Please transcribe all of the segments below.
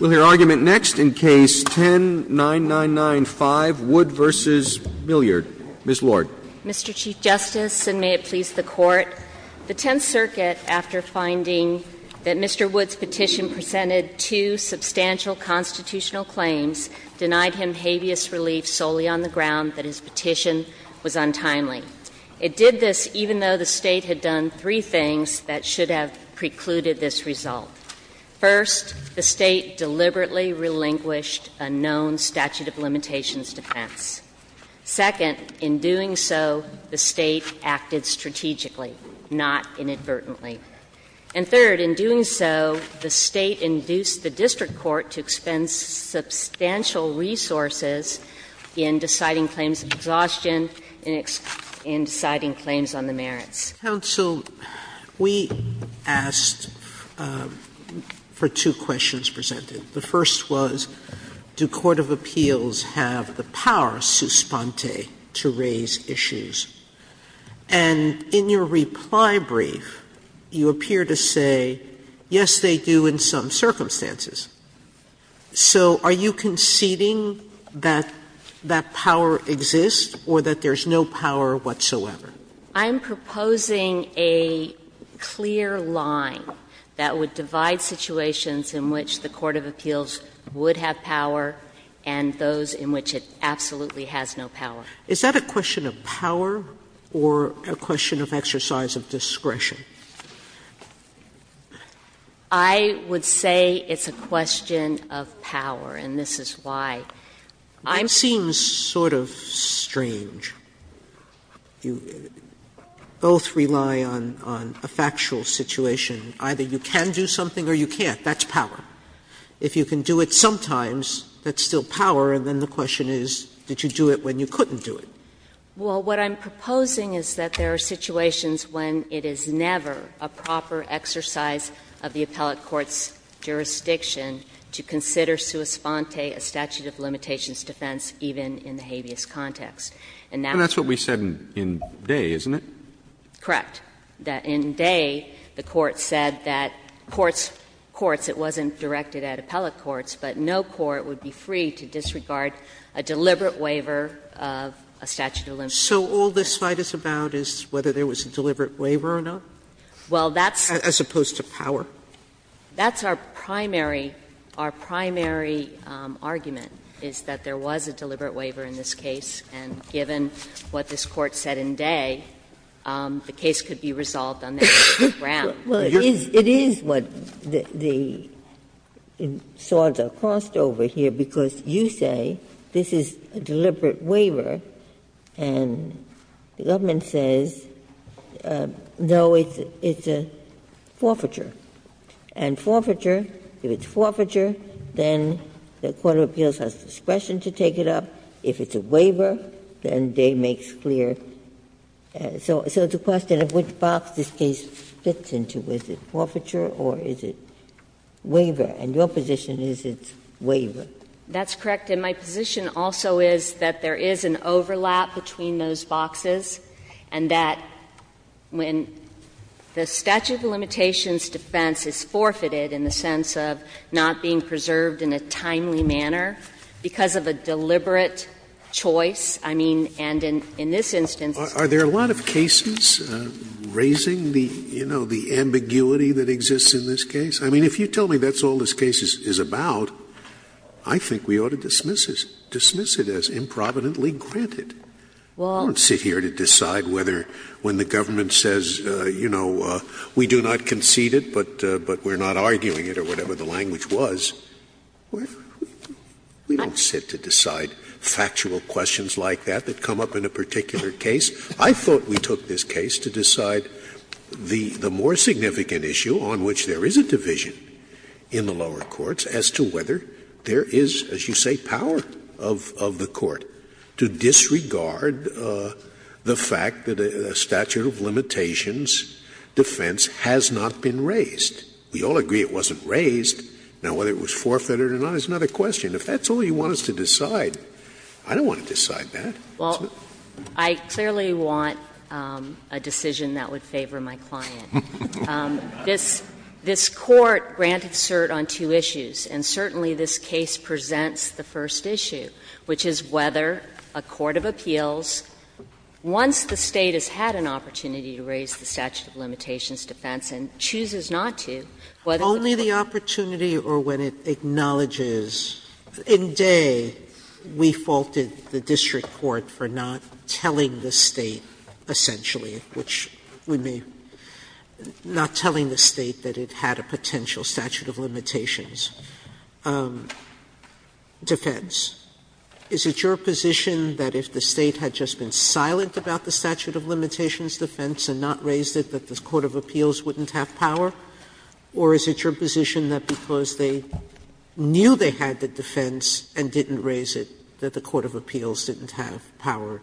Mr. Chief Justice, and may it please the Court, the Tenth Circuit, after finding that Mr. Wood's petition presented two substantial constitutional claims, denied him habeas relief solely on the ground that his petition was untimely. It did this even though the State had done three things that should have precluded this result. First, the State deliberately relinquished a known statute of limitations defense. Second, in doing so, the State acted strategically, not inadvertently. And third, in doing so, the State induced the district court to expend substantial resources in deciding claims of exhaustion, in deciding claims on the merits. Sotomayor's counsel, we asked for two questions presented. The first was, do court of appeals have the power, sus ponte, to raise issues? And in your reply brief, you appear to say, yes, they do in some circumstances. So are you conceding that that power exists or that there's no power whatsoever? I'm proposing a clear line that would divide situations in which the court of appeals would have power and those in which it absolutely has no power. Is that a question of power or a question of exercise of discretion? I would say it's a question of power, and this is why. I'm saying it's sort of strange. You both rely on a factual situation. Either you can do something or you can't. That's power. If you can do it sometimes, that's still power, and then the question is, did you do it when you couldn't do it? Well, what I'm proposing is that there are situations when it is never a proper exercise of the appellate court's jurisdiction to consider sus ponte a statute of limitations defense, even in the habeas context. And that's what we said in Day, isn't it? Correct. In Day, the court said that courts, courts, it wasn't directed at appellate courts, but no court would be free to disregard a deliberate waiver of a statute of limitations. So all this fight is about is whether there was a deliberate waiver or not? Well, that's. As opposed to power. That's our primary, our primary argument, is that there was a deliberate waiver in this case, and given what this Court said in Day, the case could be resolved on that ground. Well, it is what the swords are crossed over here, because you say this is a deliberate waiver, and the government says, no, it's a forfeiture. And forfeiture, if it's forfeiture, then the court of appeals has discretion to take it up. If it's a waiver, then Day makes clear. So it's a question of which box this case fits into. Is it forfeiture or is it waiver? And your position is it's waiver. That's correct. And my position also is that there is an overlap between those boxes, and that when the statute of limitations defense is forfeited in the sense of not being preserved in a timely manner, because of a deliberate choice, I mean, and in this instance Are there a lot of cases raising the, you know, the ambiguity that exists in this case? I mean, if you tell me that's all this case is about, I think we ought to dismiss it, dismiss it as improvidently granted. I don't sit here to decide whether when the government says, you know, we do not concede it, but we're not arguing it, or whatever the language was. We don't sit to decide factual questions like that that come up in a particular case. I thought we took this case to decide the more significant issue on which there is a division in the lower courts as to whether there is, as you say, power of the court to disregard the fact that a statute of limitations defense has not been rendered. I mean, we all agree it wasn't raised. We all agree it wasn't raised. Now, whether it was forfeited or not is another question. If that's all you want us to decide, I don't want to decide that. Well, I clearly want a decision that would favor my client. This Court granted cert on two issues, and certainly this case presents the first issue, which is whether a court of appeals, once the State has had an opportunity to raise the statute of limitations defense and chooses not to, whether the court Sotomayor, only the opportunity or when it acknowledges. In Day, we faulted the district court for not telling the State, essentially, which would be not telling the State that it had a potential statute of limitations defense. Is it your position that if the State had just been silent about the statute of limitations defense and not raised it, that the court of appeals wouldn't have power? Or is it your position that because they knew they had the defense and didn't raise it, that the court of appeals didn't have power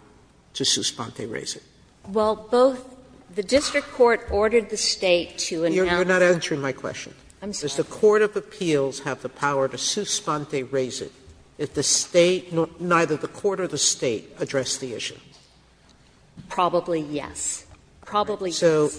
to suspente raise it? Well, both the district court ordered the State to announce that. Sotomayor, you're not answering my question. I'm sorry. Does the court of appeals have the power to suspente raise it if the State nor the court or the State address the issue? Probably, yes. Probably, yes. So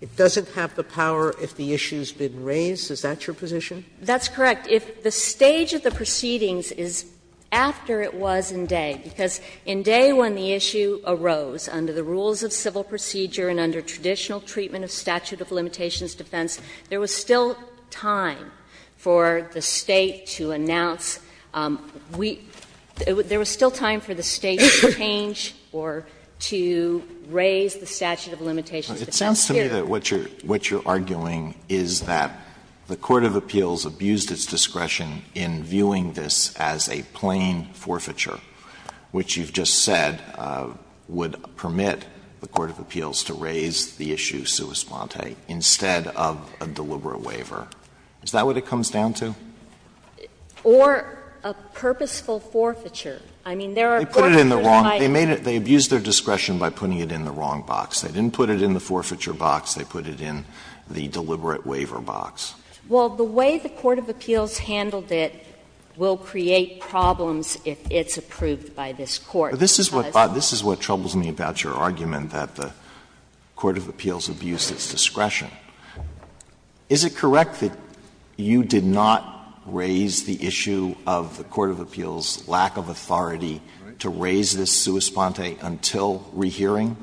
it doesn't have the power if the issue's been raised? Is that your position? That's correct. If the stage of the proceedings is after it was in Day, because in Day when the issue arose under the rules of civil procedure and under traditional treatment of statute of limitations defense, there was still time for the State to announce. There was still time for the State to change or to raise the statute of limitations defense here. It sounds to me that what you're arguing is that the court of appeals abused its discretion in viewing this as a plain forfeiture, which you've just said would permit the court of appeals to raise the issue suspente instead of a deliberate waiver. Is that what it comes down to? Or a purposeful forfeiture. I mean, there are court of appeals that might do that. They put it in the wrong box. They abused their discretion by putting it in the wrong box. They didn't put it in the forfeiture box. They put it in the deliberate waiver box. Well, the way the court of appeals handled it will create problems if it's approved by this Court. But this is what troubles me about your argument that the court of appeals abused its discretion. Is it correct that you did not raise the issue of the court of appeals' lack of authority to raise this suspente until rehearing?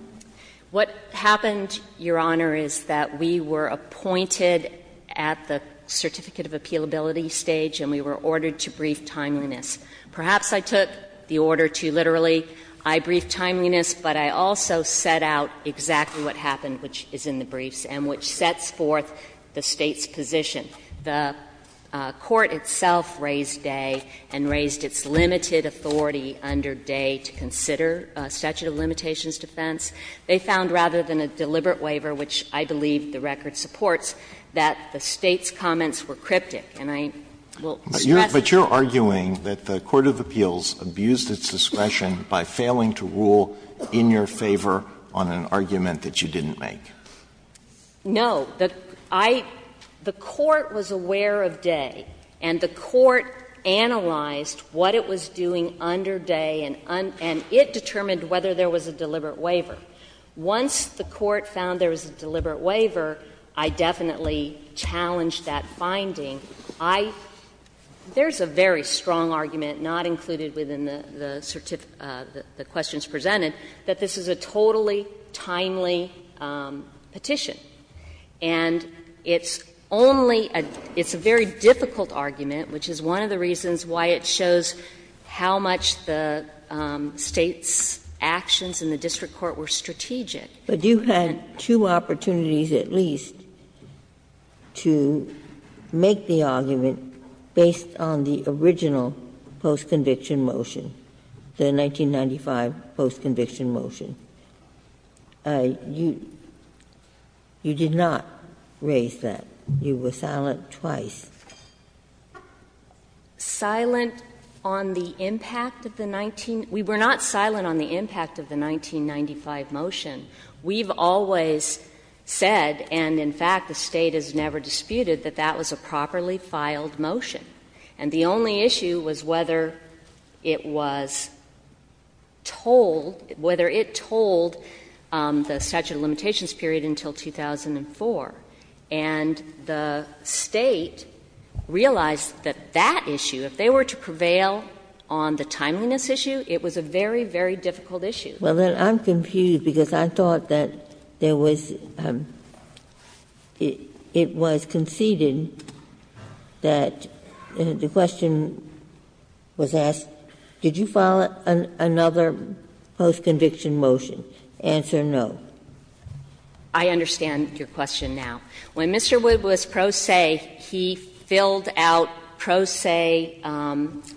What happened, Your Honor, is that we were appointed at the certificate of appealability stage and we were ordered to brief timeliness. Perhaps I took the order to literally, I brief timeliness, but I also set out exactly what happened, which is in the briefs, and which sets forth the State's position. The court itself raised Day and raised its limited authority under Day to consider a statute of limitations defense. They found rather than a deliberate waiver, which I believe the record supports, that the State's comments were cryptic. And I will stress that. But you're arguing that the court of appeals abused its discretion by failing to rule in your favor on an argument that you didn't make. No. I — the court was aware of Day, and the court analyzed what it was doing under Day, and it determined whether there was a deliberate waiver. Once the court found there was a deliberate waiver, I definitely challenged that finding. I — there's a very strong argument, not included within the certificate — the questions presented, that this is a totally timely petition. And it's only a — it's a very difficult argument, which is one of the reasons why it shows how much the State's actions in the district court were strategic. But you had two opportunities at least to make the argument based on the original post-conviction motion, the 1995 post-conviction motion. You did not raise that. You were silent twice. Silent on the impact of the 19 — we were not silent on the impact of the 1995 motion. We've always said, and in fact the State has never disputed, that that was a properly filed motion. And the only issue was whether it was told — whether it told the statute of limitations period until 2004. And the State realized that that issue, if they were to prevail on the timeliness issue, it was a very, very difficult issue. Well, then I'm confused, because I thought that there was — it was conceded that the question was asked, did you file another post-conviction motion? Answer, no. I understand your question now. When Mr. Wood was pro se, he filled out pro se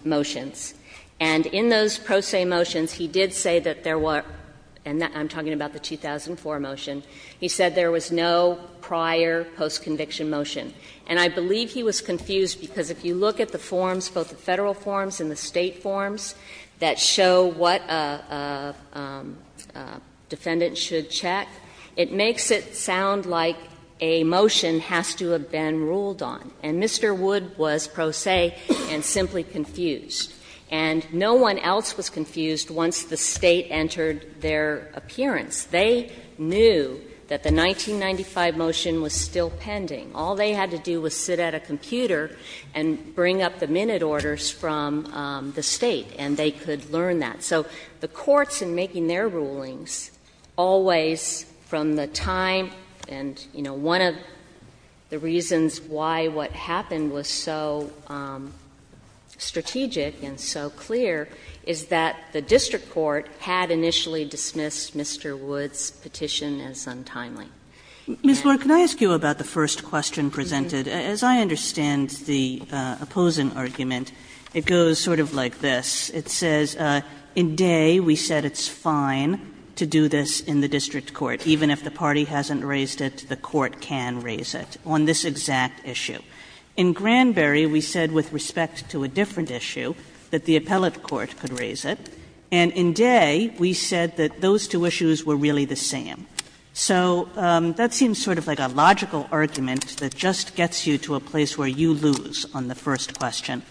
motions. And in those pro se motions, he did say that there were — and I'm talking about the 2004 motion. He said there was no prior post-conviction motion. And I believe he was confused, because if you look at the forms, both the Federal forms and the State forms, that show what a defendant should check, it makes it sound like a motion has to have been ruled on. And Mr. Wood was pro se and simply confused. And no one else was confused once the State entered their appearance. They knew that the 1995 motion was still pending. All they had to do was sit at a computer and bring up the minute orders from the State, and they could learn that. So the courts, in making their rulings, always from the time and, you know, one of the reasons why what happened was so strategic and so clear is that the district court had initially dismissed Mr. Wood's petition as untimely. Ms. Lord, can I ask you about the first question presented? As I understand the opposing argument, it goes sort of like this. It says, in Dey, we said it's fine to do this in the district court. Even if the party hasn't raised it, the court can raise it on this exact issue. In Granberry, we said with respect to a different issue, that the appellate court could raise it. And in Dey, we said that those two issues were really the same. So that seems sort of like a logical argument that just gets you to a place where you lose on the first question,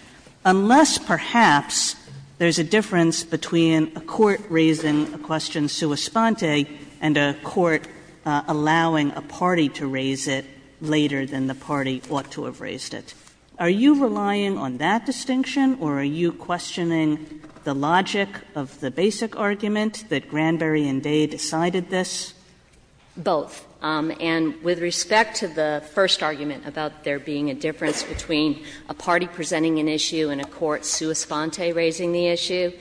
unless perhaps there's a difference between a court raising a question sua sponte and a court allowing a party to raise it later than the party ought to have raised it. Are you relying on that distinction, or are you questioning the logic of the basic argument that Granberry and Dey decided this? Both. And with respect to the first argument about there being a difference between a party presenting an issue and a court sua sponte raising the issue,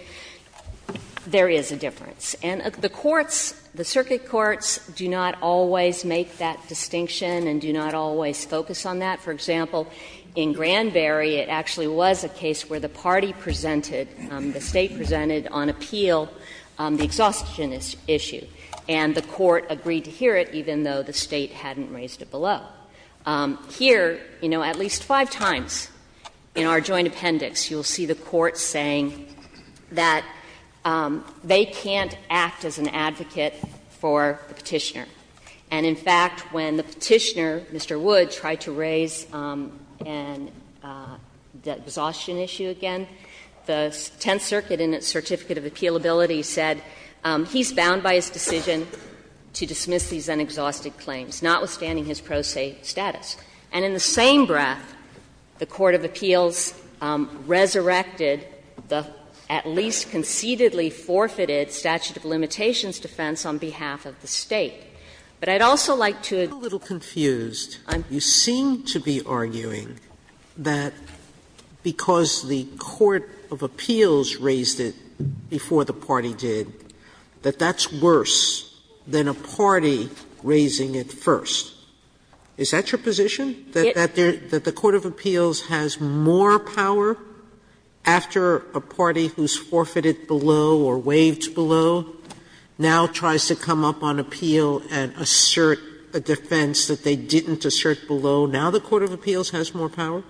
there is a difference. And the courts, the circuit courts, do not always make that distinction and do not always focus on that. For example, in Granberry, it actually was a case where the party presented, the State presented on appeal, the exhaustion issue. And the court agreed to hear it, even though the State hadn't raised it below. Here, you know, at least five times in our joint appendix, you will see the court saying that they can't act as an advocate for the Petitioner. And in fact, when the Petitioner, Mr. Wood, tried to raise an exhaustion issue again, the Tenth Circuit in its Certificate of Appealability said, he's bound by his And in the same breath, the court of appeals resurrected the at least concededly forfeited statute of limitations defense on behalf of the State. But I'd also like to add to that. Sotomayor, you seem to be arguing that because the court of appeals raised it before the party did, that that's worse than a party raising it first. Is that your position, that the court of appeals has more power after a party who's forfeited below or waived below now tries to come up on appeal and assert a defense that they didn't assert below? Now the court of appeals has more power?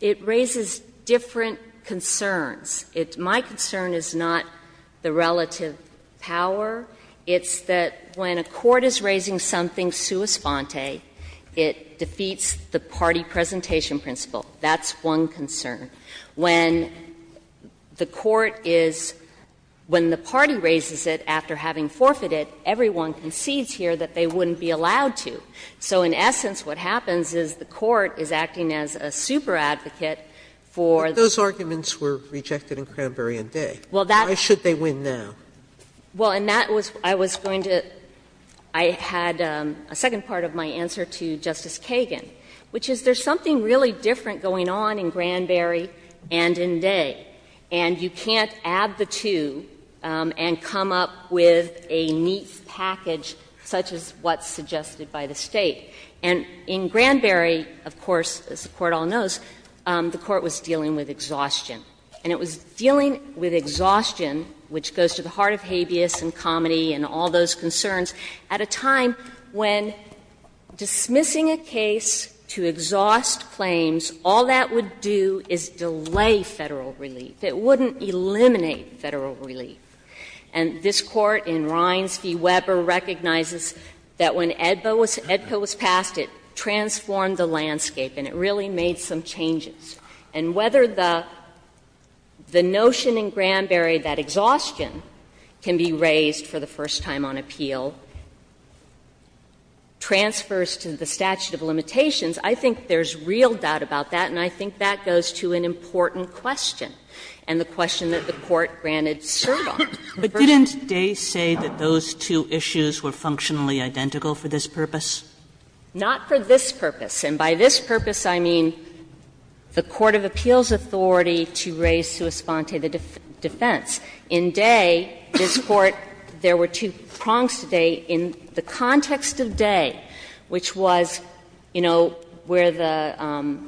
It raises different concerns. My concern is not the relative power. It's that when a court is raising something sua sponte, it defeats the party presentation principle. That's one concern. When the court is, when the party raises it after having forfeited, everyone concedes here that they wouldn't be allowed to. So in essence, what happens is the court is acting as a super advocate for the party. Sotomayor, those arguments were rejected in Cranberry and Day. Why should they win now? Well, and that was, I was going to, I had a second part of my answer to Justice Kagan, which is there's something really different going on in Cranberry and in Day. And you can't add the two and come up with a neat package such as what's suggested by the State. And in Cranberry, of course, as the Court all knows, the Court was dealing with exhaustion. And it was dealing with exhaustion, which goes to the heart of habeas and comedy and all those concerns, at a time when dismissing a case to exhaust claims, all that would do is delay Federal relief. It wouldn't eliminate Federal relief. And this Court, in Rines v. Weber, recognizes that when AEDPA was passed, it transformed the landscape and it really made some changes. And whether the notion in Cranberry that exhaustion can be raised for the first time on appeal transfers to the statute of limitations, I think there's real doubt about that, and I think that goes to an important question and the question that the Court granted servant. But didn't Day say that those two issues were functionally identical for this purpose? Not for this purpose. And by this purpose, I mean the court of appeals' authority to raise sua sponte the defense. In Day, this Court, there were two prongs to Day. In the context of Day, which was, you know, where the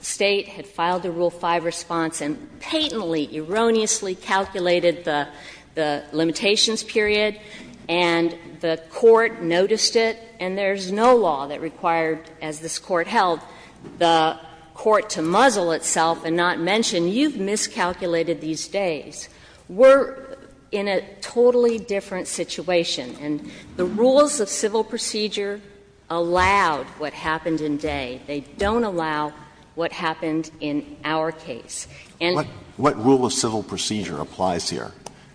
State had filed the Rule 5 response and patently, erroneously calculated the limitations period, and the Court noticed it, and there's no law that required, as this Court held, the court to muzzle itself and not mention, you've miscalculated these days, we're in a totally different situation. And the rules of civil procedure allowed what happened in Day. They don't allow what happened in our case. And the Court said that the court had not raised it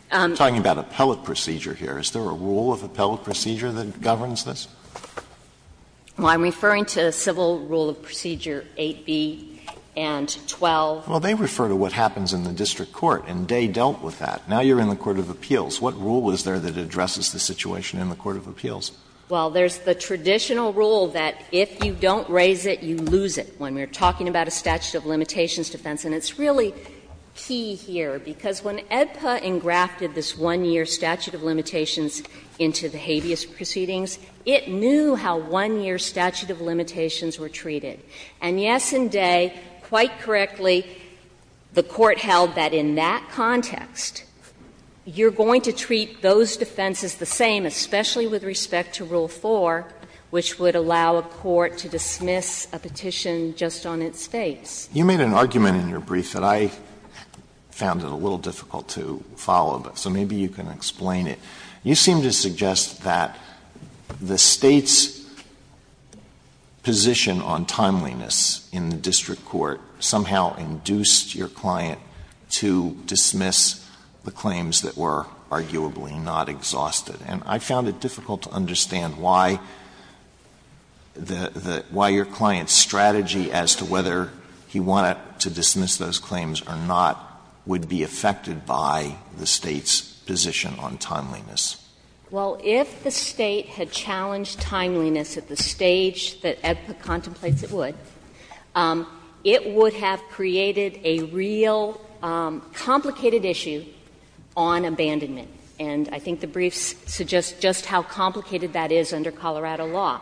and there's no law that required that in this process. Well, I'm referring to Civil Rule of Procedure 8b and 12. Well, they refer to what happens in the district court, and Day dealt with that. Now you're in the court of appeals. What rule is there that addresses the situation in the court of appeals? Well, there's the traditional rule that if you don't raise it, you lose it when we're talking about a statute of limitations defense. And it's really key here, because when AEDPA engrafted this 1-year statute of limitations into the habeas proceedings, it knew how 1-year statute of limitations were treated. And yes, in Day, quite correctly, the court held that in that context, you're going to treat those defenses the same, especially with respect to Rule 4, which would allow a court to dismiss a petition just on its face. Alito You made an argument in your brief that I found it a little difficult to follow, so maybe you can explain it. You seem to suggest that the State's position on timeliness in the district court somehow induced your client to dismiss the claims that were arguably not exhausted. And I found it difficult to understand why the — why your client's strategy as to whether he wanted to dismiss those claims or not would be affected by the State's position on timeliness. Well, if the State had challenged timeliness at the stage that AEDPA contemplates it would, it would have created a real complicated issue on abandonment. And I think the brief suggests just how complicated that is under Colorado law.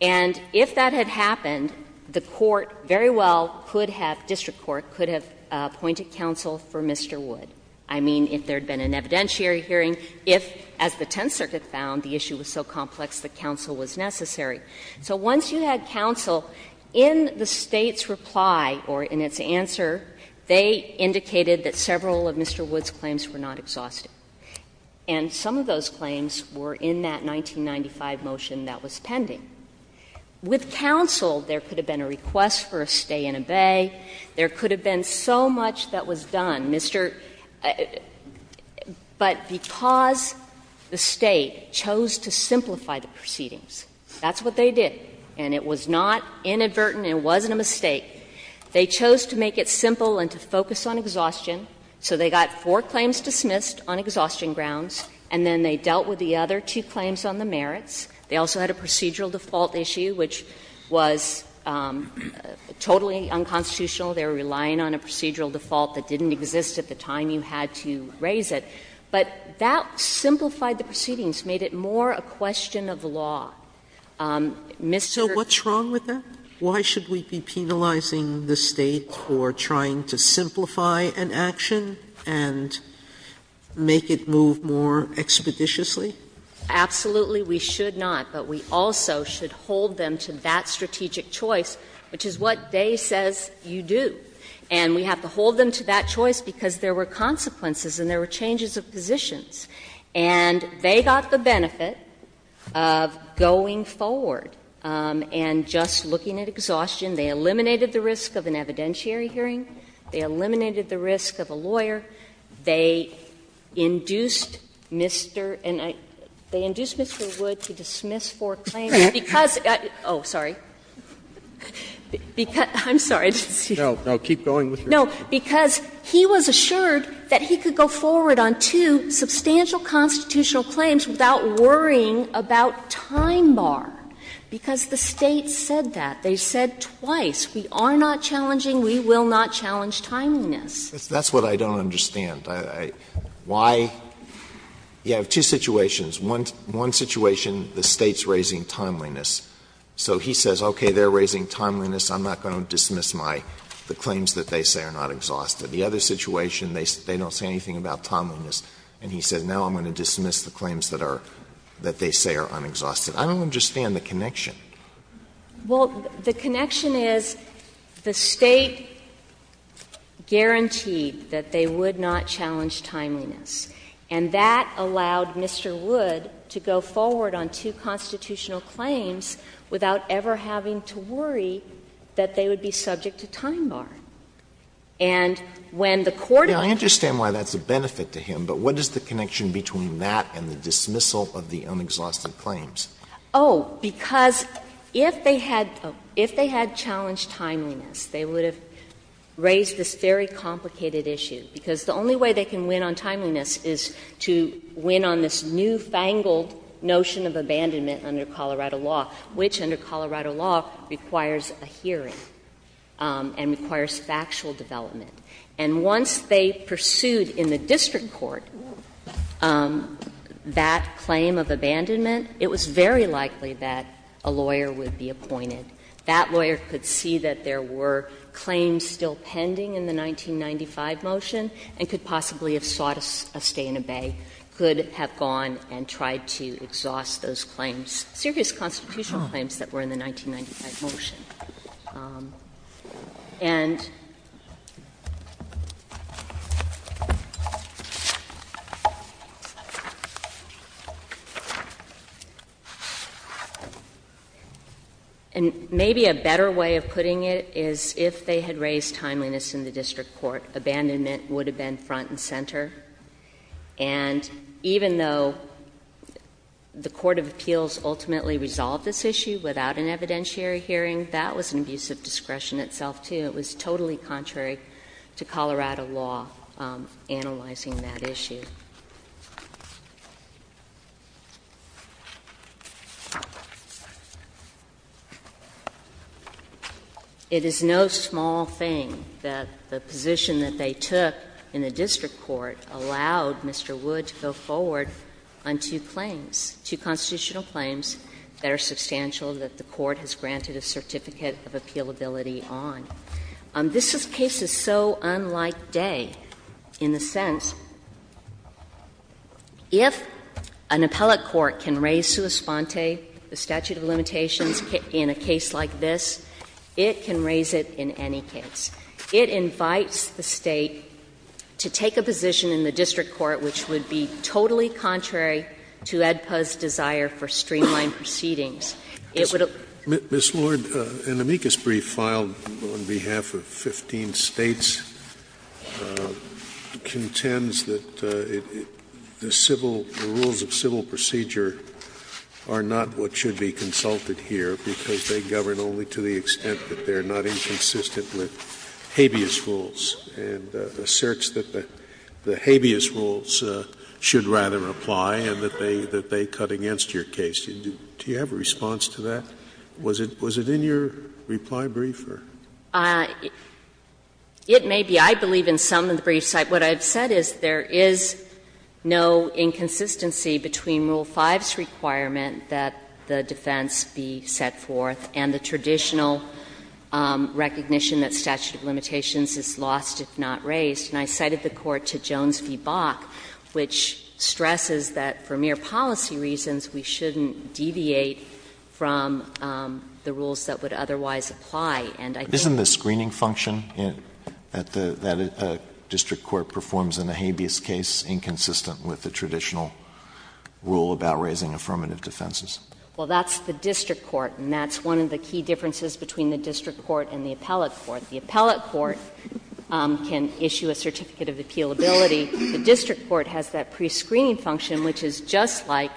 And if that had happened, the court very well could have — district court could have appointed counsel for Mr. Wood. I mean, if there had been an evidentiary hearing, if, as the Tenth Circuit found, the issue was so complex that counsel was necessary. So once you had counsel, in the State's reply or in its answer, they indicated that several of Mr. Wood's claims were not exhausted. And some of those claims were in that 1995 motion that was pending. With counsel, there could have been a request for a stay in abbey. There could have been so much that was done. Mr. — but because the State chose to simplify the proceedings, that's what they did, and it was not inadvertent, it wasn't a mistake. They chose to make it simple and to focus on exhaustion, so they got four claims dismissed on exhaustion grounds, and then they dealt with the other two claims on the merits. They also had a procedural default issue, which was totally unconstitutional. They were relying on a procedural default that didn't exist at the time you had to raise it. But that simplified the proceedings, made it more a question of law. Mr. — Sotomayor, what's wrong with that? Why should we be penalizing the State for trying to simplify an action and make it move more expeditiously? Absolutely we should not, but we also should hold them to that strategic choice, which is what Day says you do. And we have to hold them to that choice because there were consequences and there were changes of positions. And they got the benefit of going forward and just looking at exhaustion. They eliminated the risk of an evidentiary hearing. They eliminated the risk of a lawyer. They induced Mr. — they induced Mr. Wood to dismiss four claims because — oh, sorry. I'm sorry. No, keep going with your question. No, because he was assured that he could go forward on two substantial constitutional claims without worrying about time bar, because the State said that. They said twice, we are not challenging, we will not challenge timeliness. That's what I don't understand. Why — you have two situations. One situation, the State's raising timeliness. So he says, okay, they're raising timeliness, I'm not going to dismiss my — the claims that they say are not exhausted. The other situation, they don't say anything about timeliness, and he says, now I'm going to dismiss the claims that are — that they say are unexhausted. I don't understand the connection. Well, the connection is the State guaranteed that they would not challenge timeliness. And that allowed Mr. Wood to go forward on two constitutional claims without ever having to worry that they would be subject to time bar. And when the Court of Appeals — I understand why that's a benefit to him, but what is the connection between that and the dismissal of the unexhausted claims? Oh, because if they had — if they had challenged timeliness, they would have raised this very complicated issue, because the only way they can win on timeliness is to win on this newfangled notion of abandonment under Colorado law, which under Colorado law requires a hearing and requires factual development. And once they pursued in the district court that claim of abandonment, it was very likely that a lawyer would be appointed. That lawyer could see that there were claims still pending in the 1995 motion and could possibly have sought a stay and obey, could have gone and tried to exhaust those claims, serious constitutional claims that were in the 1995 motion. And maybe a better way of putting it is, if they had raised timeliness in the district court, abandonment would have been front and center, and even though the Court of Appeals ultimately resolved this issue without an evidentiary hearing, that would have been an abusive discretion itself, too. It was totally contrary to Colorado law analyzing that issue. It is no small thing that the position that they took in the district court allowed Mr. Wood to go forward on two claims, two constitutional claims that are substantial, that the Court has granted a certificate of appealability on. This case is so unlike Day in the sense, if an appellate court can raise sua sponte, the statute of limitations, in a case like this, it can raise it in any case. It invites the State to take a position in the district court which would be totally contrary to AEDPA's desire for streamlined proceedings. It would have been a different case. Scalia. Mr. Lord, an amicus brief filed on behalf of 15 States contends that the civil, the rules of civil procedure are not what should be consulted here, because they govern only to the extent that they are not inconsistent with habeas rules, and asserts that the habeas rules should rather apply and that they cut against your case. Do you have a response to that? Was it in your reply brief? Or? It may be. I believe in some of the briefs. What I've said is there is no inconsistency between Rule 5's requirement that the defense be set forth and the traditional recognition that statute of limitations is lost if not raised. And I cited the Court to Jones v. Bach, which stresses that for mere policy reasons we shouldn't deviate from the rules that would otherwise apply. And I think that's true. Isn't the screening function that a district court performs in a habeas case inconsistent with the traditional rule about raising affirmative defenses? Well, that's the district court, and that's one of the key differences between the district court and the appellate court. The appellate court can issue a certificate of appealability. The district court has that prescreening function, which is just like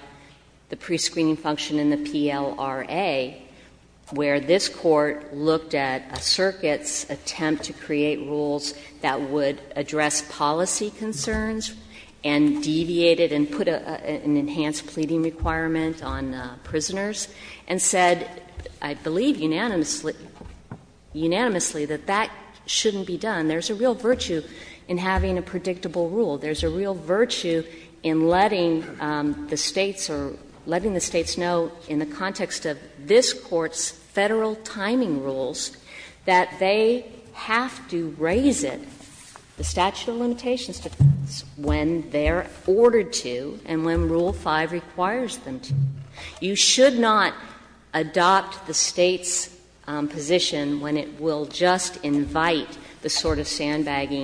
the prescreening function in the PLRA, where this Court looked at a circuit's attempt to create rules that would address policy concerns and deviated and put an enhanced pleading requirement on prisoners, and said, I believe, unanimously, unanimously, that that shouldn't be done. There's a real virtue in having a predictable rule. There's a real virtue in letting the States or letting the States know in the context of this Court's Federal timing rules that they have to raise it, the statute of limitations, when they are ordered to and when Rule 5 requires them to. You should not adopt the State's position when it will just invite the sort of sandbagging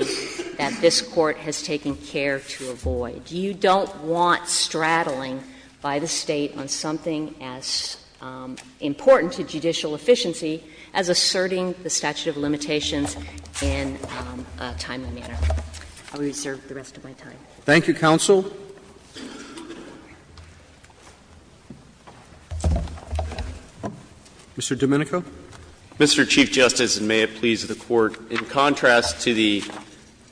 that this Court has taken care to avoid. You don't want straddling by the State on something as important to judicial efficiency as asserting the statute of limitations in a timely manner. I will reserve the rest of my time. Thank you, counsel. Mr. Domenico. Mr. Chief Justice, and may it please the Court, in contrast to the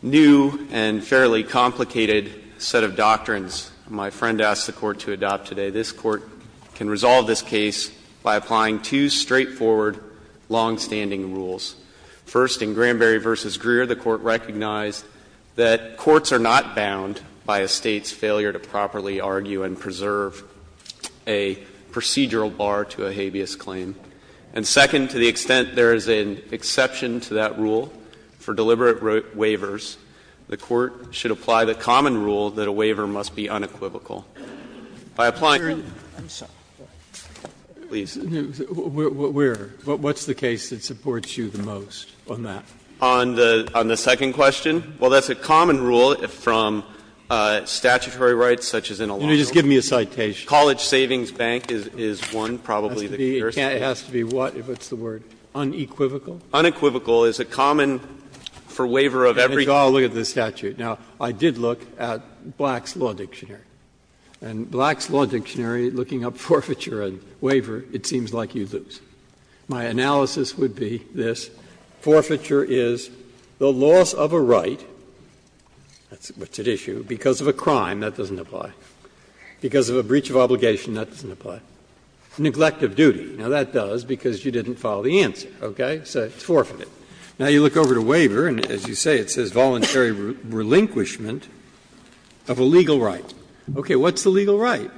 new and fairly complicated set of doctrines my friend asked the Court to adopt today, this Court can resolve this case by applying two straightforward longstanding rules. First, in Granberry v. Greer, the Court recognized that courts are not bound by a State's failure to properly argue and preserve a procedural bar to a habeas claim. And second, to the extent there is an exception to that rule for deliberate waivers, the Court should apply the common rule that a waiver must be unequivocal. By applying the rule, please. Breyer, what's the case that supports you the most on that? On the second question? Well, that's a common rule from statutory rights such as in a law. Just give me a citation. College Savings Bank is one, probably the first. It has to be what, what's the word, unequivocal? Unequivocal is a common for waiver of everything. I'll look at the statute. Now, I did look at Black's Law Dictionary. And Black's Law Dictionary, looking up forfeiture and waiver, it seems like you lose. My analysis would be this. Forfeiture is the loss of a right, that's what's at issue, because of a crime. That doesn't apply. Because of a breach of obligation, that doesn't apply. Neglect of duty. Now, that does because you didn't follow the answer, okay? So it's forfeited. Now you look over to waiver, and as you say, it says voluntary relinquishment of a legal right. Okay, what's the legal right?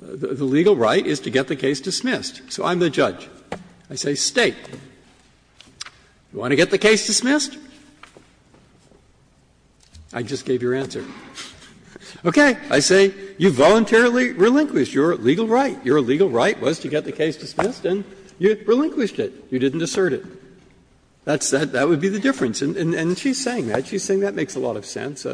The legal right is to get the case dismissed. So I'm the judge. I say, State, do you want to get the case dismissed? I just gave your answer. Okay. I say, you voluntarily relinquished your legal right. Your legal right was to get the case dismissed, and you relinquished it. You didn't assert it. That would be the difference. And she's saying that. She's saying that makes a lot of sense.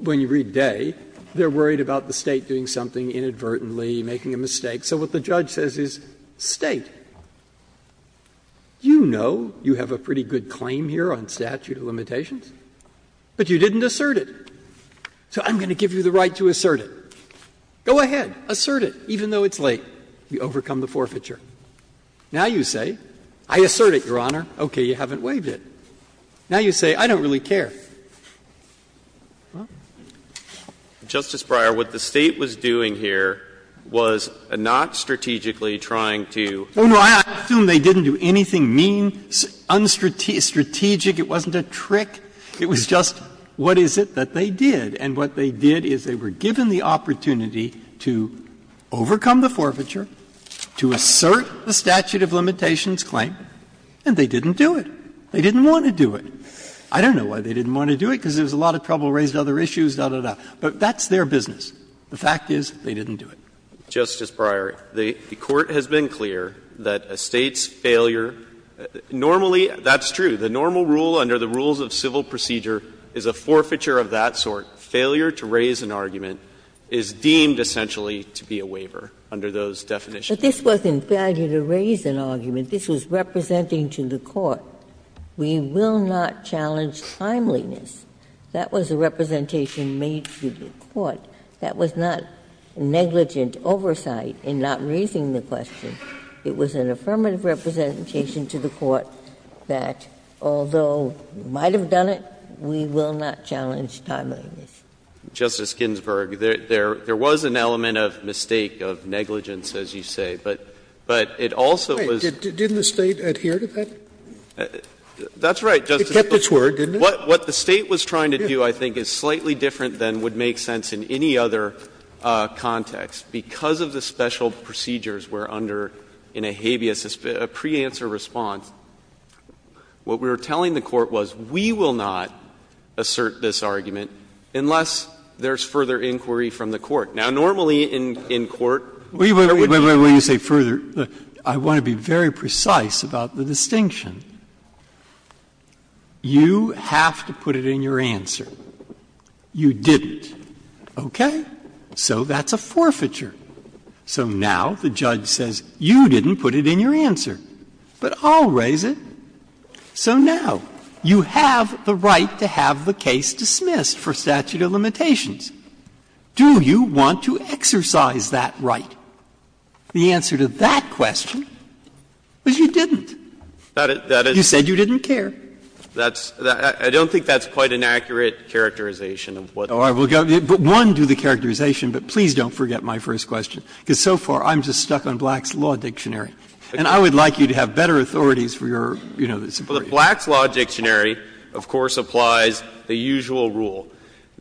When you read Day, they're worried about the State doing something inadvertently, making a mistake. So what the judge says is, State, you know you have a pretty good claim here on statute of limitations, but you didn't assert it. So I'm going to give you the right to assert it. Go ahead, assert it, even though it's late. You overcome the forfeiture. Now you say, I assert it, Your Honor. Okay, you haven't waived it. Now you say, I don't really care. Well. Breyer, what the State was doing here was not strategically trying to do. Oh, no, I assume they didn't do anything mean, unstrategic, it wasn't a trick. It was just, what is it that they did? And what they did is they were given the opportunity to overcome the forfeiture, to assert the statute of limitations claim, and they didn't do it. They didn't want to do it. I don't know why they didn't want to do it, because it was a lot of trouble, raised other issues, da, da, da. But that's their business. The fact is, they didn't do it. Justice Breyer, the Court has been clear that a State's failure, normally, that's true, the normal rule under the rules of civil procedure is a forfeiture of that sort. Failure to raise an argument is deemed essentially to be a waiver under those definitions. But this wasn't failure to raise an argument. This was representing to the Court, we will not challenge timeliness. That was a representation made to the Court. That was not negligent oversight in not raising the question. It was an affirmative representation to the Court that, although we might have done it, we will not challenge timeliness. Justice Ginsburg, there was an element of mistake, of negligence, as you say, but it also was. Didn't the State adhere to that? That's right, Justice Scalia. It kept its word, didn't it? What the State was trying to do, I think, is slightly different than would make sense in any other context. Because of the special procedures we're under in a habeas, a preanswer response, what we were telling the Court was, we will not assert this argument unless there's further inquiry from the Court. Now, normally in court, there would be no further inquiry. Wait, wait, wait, before you say further, I want to be very precise about the distinction. You have to put it in your answer. You didn't. Okay? So that's a forfeiture. So now the judge says, you didn't put it in your answer, but I'll raise it. So now you have the right to have the case dismissed for statute of limitations. Do you want to exercise that right? The answer to that question was you didn't. You said you didn't care. That's the question. I don't think that's quite an accurate characterization of what's going on. Oh, I will go. One, do the characterization, but please don't forget my first question, because so far I'm just stuck on Black's Law Dictionary. And I would like you to have better authorities for your, you know, this brief. Well, the Black's Law Dictionary, of course, applies the usual rule.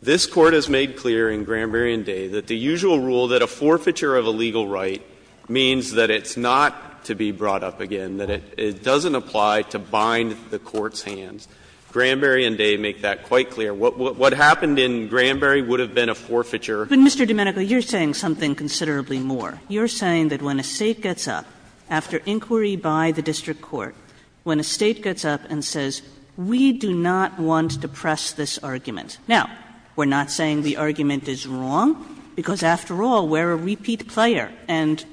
This Court has made clear in Granberry v. Day that the usual rule that a forfeiture of a legal right means that it's not to be brought up again, that it doesn't apply to bind the court's hands. Granberry v. Day make that quite clear. What happened in Granberry would have been a forfeiture. But, Mr. Domenico, you're saying something considerably more. You're saying that when a State gets up after inquiry by the district court, when a State gets up and says, we do not want to press this argument. Now, we're not saying the argument is wrong, because after all, we're a repeat player, and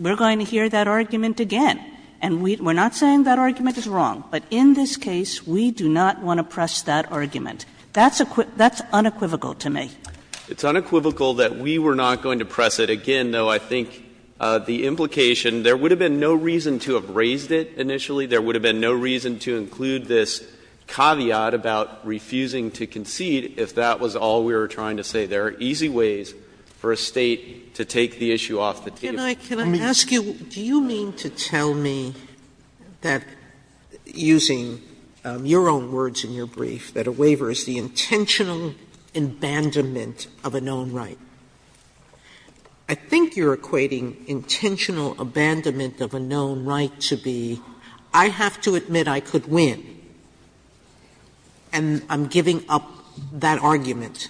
we're going to hear that argument again. And we're not saying that argument is wrong. But in this case, we do not want to press that argument. That's unequivocal to me. It's unequivocal that we were not going to press it again, though I think the implication — there would have been no reason to have raised it initially, there would have been no reason to include this caveat about refusing to concede if that was all we were trying to say. There are easy ways for a State to take the issue off the table. Sotomayor, can I ask you, do you mean to tell me that, using your own words in your brief, that a waiver is the intentional abandonment of a known right? I think you're equating intentional abandonment of a known right to be, I have to admit I could win, and I'm giving up that argument.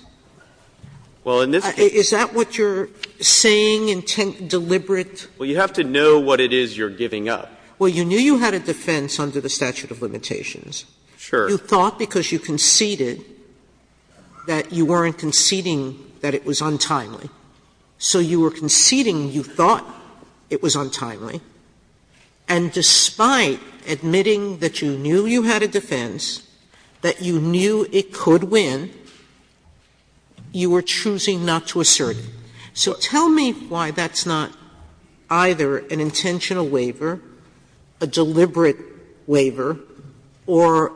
Is that what you're saying, intent deliberate? Well, you have to know what it is you're giving up. Well, you knew you had a defense under the statute of limitations. Sure. You thought because you conceded that you weren't conceding that it was untimely. So you were conceding you thought it was untimely. And despite admitting that you knew you had a defense, that you knew it could win, you were choosing not to assert it. So tell me why that's not either an intentional waiver, a deliberate waiver, or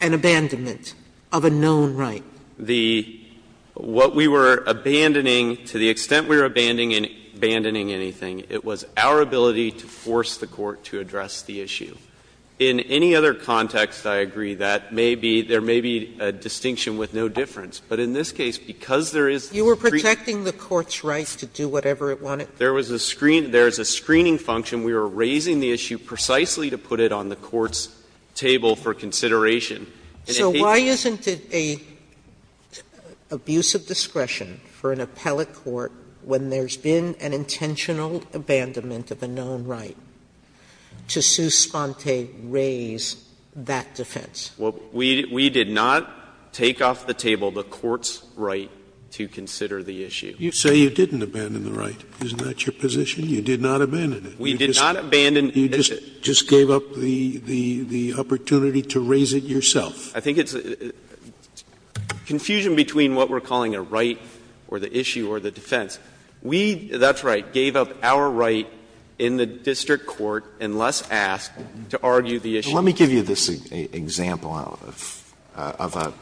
an abandonment of a known right. The what we were abandoning, to the extent we were abandoning anything, it was our ability to force the court to address the issue. In any other context, I agree that maybe there may be a distinction with no difference. But in this case, because there is a screen. You were protecting the court's rights to do whatever it wanted? There was a screen. There is a screening function. We were raising the issue precisely to put it on the court's table for consideration. So why isn't it an abuse of discretion for an appellate court when there's been an intentional abandonment of a known right to sus sponte, raise that defense? Well, we did not take off the table the court's right to consider the issue. You say you didn't abandon the right. Isn't that your position? You did not abandon it. We did not abandon the issue. You just gave up the opportunity to raise it yourself. I think it's a confusion between what we're calling a right or the issue or the defense. We, that's right, gave up our right in the district court unless asked to argue the issue. Alito, let me give you this example of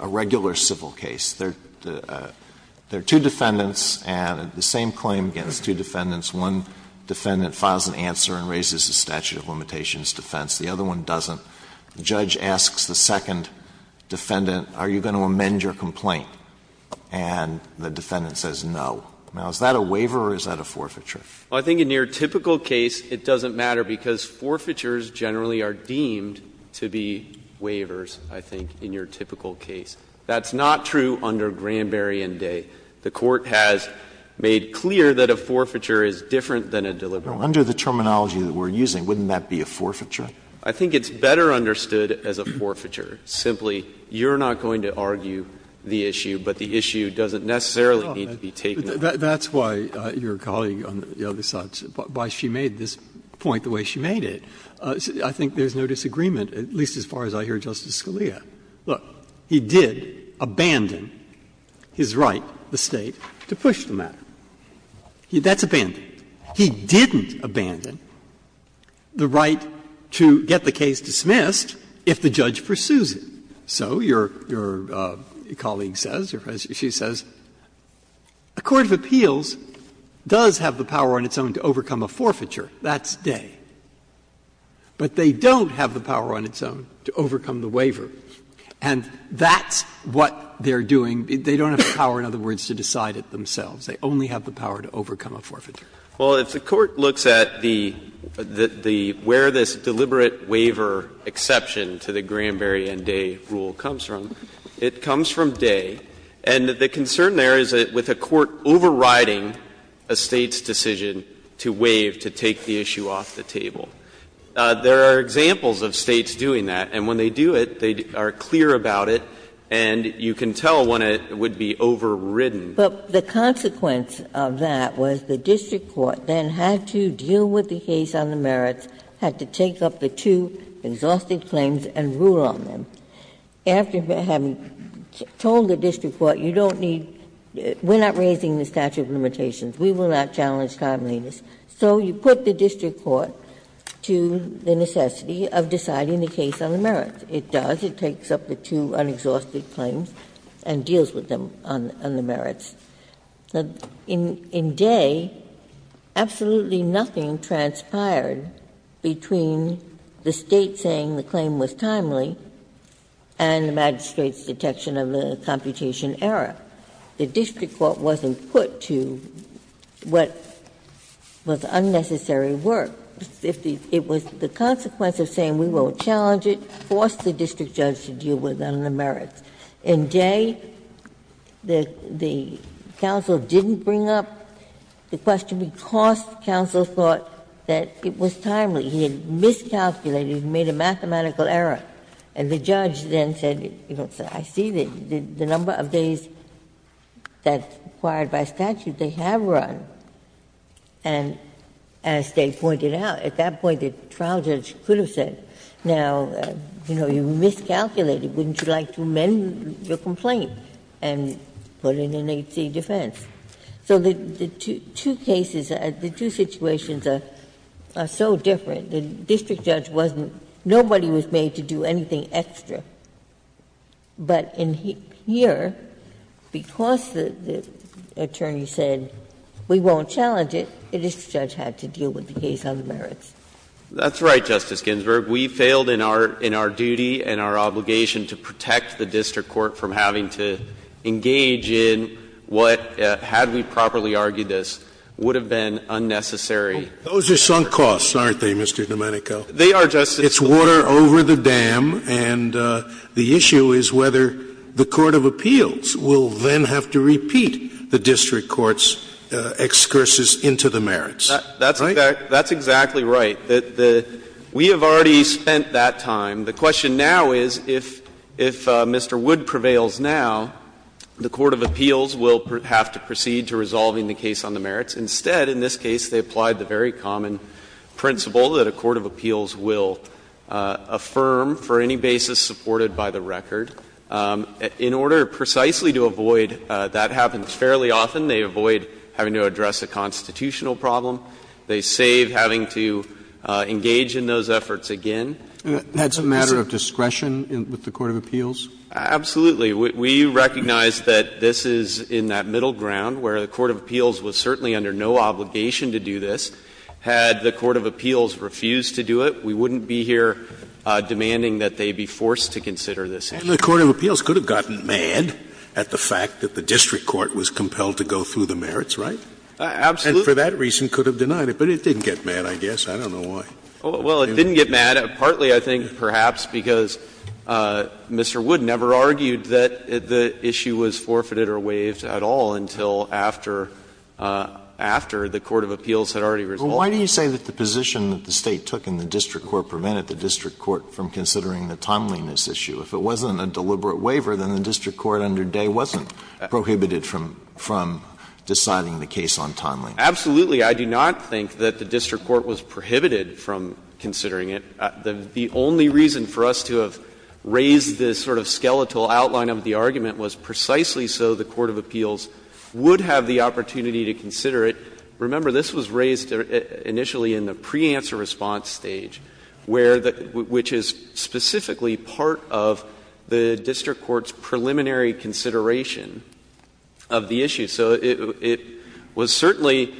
a regular civil case. There are two defendants and the same claim against two defendants. One defendant files an answer and raises the statute of limitations defense. The other one doesn't. The judge asks the second defendant, are you going to amend your complaint? And the defendant says no. Now, is that a waiver or is that a forfeiture? Well, I think in your typical case, it doesn't matter because forfeitures generally are deemed to be waivers, I think, in your typical case. That's not true under Granberry v. Day. The court has made clear that a forfeiture is different than a deliberate waiver. Under the terminology that we're using, wouldn't that be a forfeiture? I think it's better understood as a forfeiture. Simply, you're not going to argue the issue, but the issue doesn't necessarily need to be taken up. Breyer. That's why your colleague on the other side, why she made this point the way she made it. I think there's no disagreement, at least as far as I hear Justice Scalia. Look, he did abandon his right, the State, to push the matter. That's abandonment. He didn't abandon the right to get the case dismissed if the judge pursues it. So your colleague says, or as she says, a court of appeals does have the power on its own to overcome a forfeiture, that's Day. But they don't have the power on its own to overcome the waiver, and that's what they're doing. They don't have the power, in other words, to decide it themselves. They only have the power to overcome a forfeiture. Well, if the Court looks at the where this deliberate waiver exception to the Granberry and Day rule comes from, it comes from Day. And the concern there is with a court overriding a State's decision to waive, to take the issue off the table. There are examples of States doing that, and when they do it, they are clear about it, and you can tell when it would be overridden. But the consequence of that was the district court then had to deal with the case on the merits, had to take up the two exhaustive claims and rule on them. After having told the district court, you don't need to, we're not raising the statute of limitations, we will not challenge timeliness. So you put the district court to the necessity of deciding the case on the merits. It does. It takes up the two unexhausted claims and deals with them on the merits. In Day, absolutely nothing transpired between the State saying the claim was timely and the magistrate's detection of the computation error. The district court wasn't put to what was unnecessary work. It was the consequence of saying we won't challenge it, forced the district judge to deal with it on the merits. In Day, the counsel didn't bring up the question because counsel thought that it was timely. He had miscalculated, made a mathematical error. And the judge then said, you know, I see the number of days that's required by statute they have run. And as Day pointed out, at that point the trial judge could have said, now, you know, wouldn't you like to amend your complaint and put in an H.C. defense? So the two cases, the two situations are so different. The district judge wasn't — nobody was made to do anything extra. But in here, because the attorney said we won't challenge it, the district judge had to deal with the case on the merits. That's right, Justice Ginsburg. We failed in our duty and our obligation to protect the district court from having to engage in what, had we properly argued this, would have been unnecessary work. Those are sunk costs, aren't they, Mr. Domenico? They are, Justice Scalia. It's water over the dam. And the issue is whether the court of appeals will then have to repeat the district court's excursus into the merits. Right? I think that's exactly right. We have already spent that time. The question now is, if Mr. Wood prevails now, the court of appeals will have to proceed to resolving the case on the merits. Instead, in this case, they applied the very common principle that a court of appeals will affirm for any basis supported by the record. In order precisely to avoid — that happens fairly often. They avoid having to address a constitutional problem. They save having to engage in those efforts again. And that's a matter of discretion with the court of appeals? Absolutely. We recognize that this is in that middle ground where the court of appeals was certainly under no obligation to do this. Had the court of appeals refused to do it, we wouldn't be here demanding that they be forced to consider this issue. And the court of appeals could have gotten mad at the fact that the district court was compelled to go through the merits, right? Absolutely. And for that reason, could have denied it. But it didn't get mad, I guess. I don't know why. Well, it didn't get mad, partly, I think, perhaps because Mr. Wood never argued that the issue was forfeited or waived at all until after — after the court of appeals had already resolved. But why do you say that the position that the State took in the district court prevented the district court from considering the timeliness issue? If it wasn't a deliberate waiver, then the district court under Day wasn't prohibited from deciding the case on timeliness. Absolutely, I do not think that the district court was prohibited from considering it. The only reason for us to have raised this sort of skeletal outline of the argument was precisely so the court of appeals would have the opportunity to consider it. Remember, this was raised initially in the pre-answer response stage, where the — which is specifically part of the district court's preliminary consideration of the issue. So it was certainly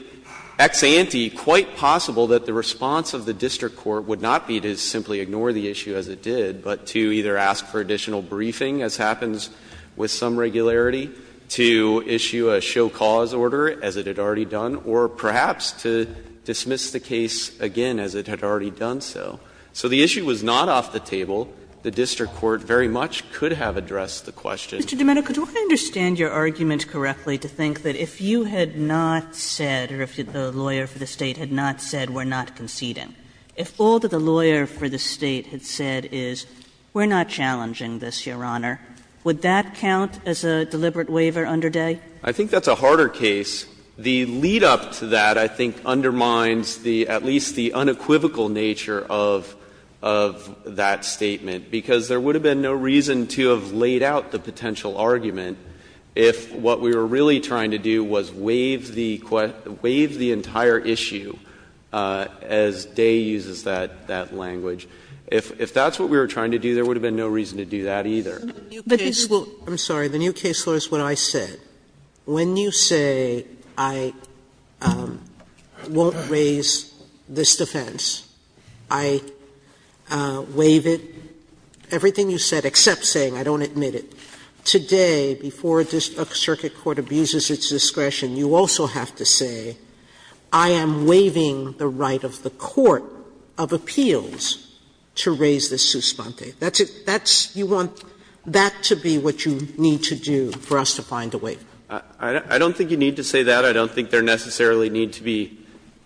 ex ante quite possible that the response of the district court would not be to simply ignore the issue as it did, but to either ask for additional briefing, as happens with some regularity, to issue a show cause order as it had already done, or perhaps to dismiss the case again as it had already done so. So the issue was not off the table. The district court very much could have addressed the question. Kagan, Mr. Domenico, do I understand your argument correctly to think that if you had not said, or if the lawyer for the State had not said, we are not conceding, if all that the lawyer for the State had said is, we are not challenging this, Your Honor, would that count as a deliberate waiver under Day? I think that's a harder case. The lead-up to that, I think, undermines the — at least the unequivocal nature of — of that statement, because there would have been no reason to have laid out the potential argument if what we were really trying to do was waive the — waive the entire issue as Day uses that — that language. If that's what we were trying to do, there would have been no reason to do that, either. Sotomayor, I'm sorry, the new case law is what I said. When you say, I won't raise this defense, I waive it, everything you said, except saying, I don't admit it, today, before a circuit court abuses its discretion, you also have to say, I am waiving the right of the court of appeals to raise this suspente. That's — that's — you want that to be what you need to do for us to find a waiver. I don't think you need to say that. I don't think there necessarily need to be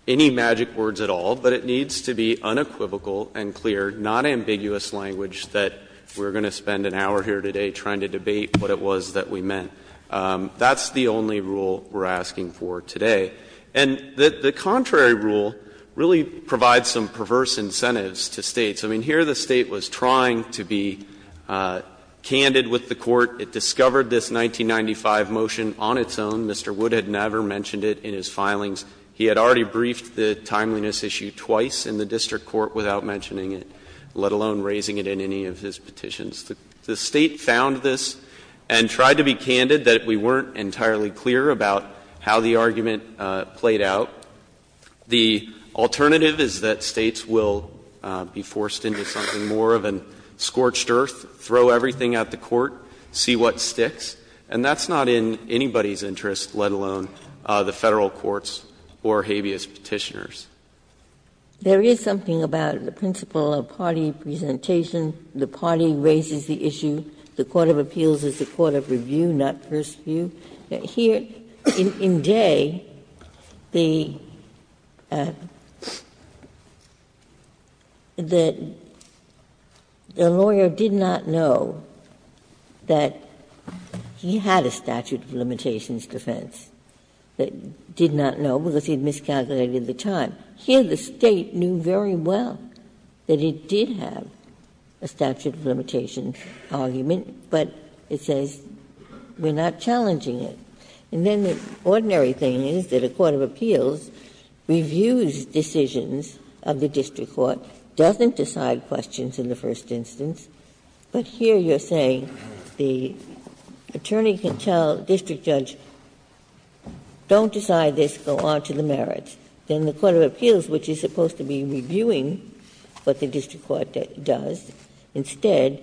any magic words at all, but it needs to be unequivocal and clear, not ambiguous language, that we're going to spend an hour here today trying to debate what it was that we meant. That's the only rule we're asking for today. And the contrary rule really provides some perverse incentives to States. I mean, here the State was trying to be candid with the court. It discovered this 1995 motion on its own. Mr. Wood had never mentioned it in his filings. He had already briefed the timeliness issue twice in the district court without mentioning it, let alone raising it in any of his petitions. The State found this and tried to be candid that we weren't entirely clear about how the argument played out. The alternative is that States will be forced into something more of a scorched earth, throw everything at the court, see what sticks. And that's not in anybody's interest, let alone the Federal court's or habeas Petitioner's. Ginsburg. There is something about the principle of party presentation, the party raises the issue, the court of appeals is the court of review, not first view. Here, in Day, the lawyer did not know that the court of appeals was going to be a court of review. He had a statute of limitations defense that did not know because he had miscalculated the time. Here the State knew very well that it did have a statute of limitations argument, but it says we are not challenging it. And then the ordinary thing is that a court of appeals reviews decisions of the district court, doesn't decide questions in the first instance, but here you are saying that the attorney can tell the district judge, don't decide this, go on to the merits. Then the court of appeals, which is supposed to be reviewing what the district court does, instead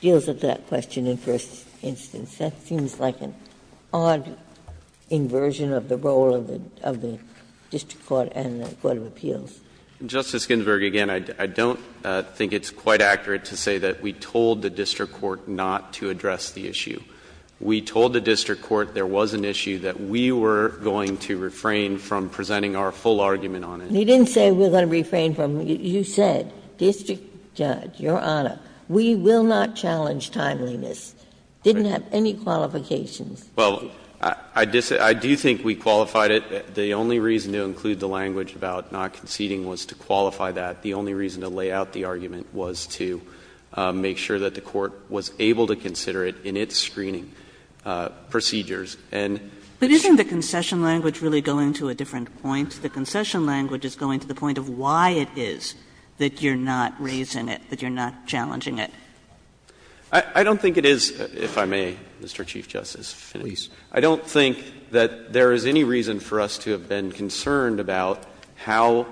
deals with that question in the first instance. That seems like an odd inversion of the role of the district court and the court of appeals. Justice Ginsburg, again, I don't think it's quite accurate to say that we told the district court not to address the issue. We told the district court there was an issue that we were going to refrain from presenting our full argument on it. Ginsburg. He didn't say we were going to refrain from it. You said, district judge, Your Honor, we will not challenge timeliness. Didn't have any qualifications. Well, I do think we qualified it. The only reason to include the language about not conceding was to qualify that. The only reason to lay out the argument was to make sure that the court was able to consider it in its screening procedures. And it's true. But isn't the concession language really going to a different point? The concession language is going to the point of why it is that you're not raising it, that you're not challenging it. I don't think it is, if I may, Mr. Chief Justice, I don't think that there is any reason for us to have been concerned about how,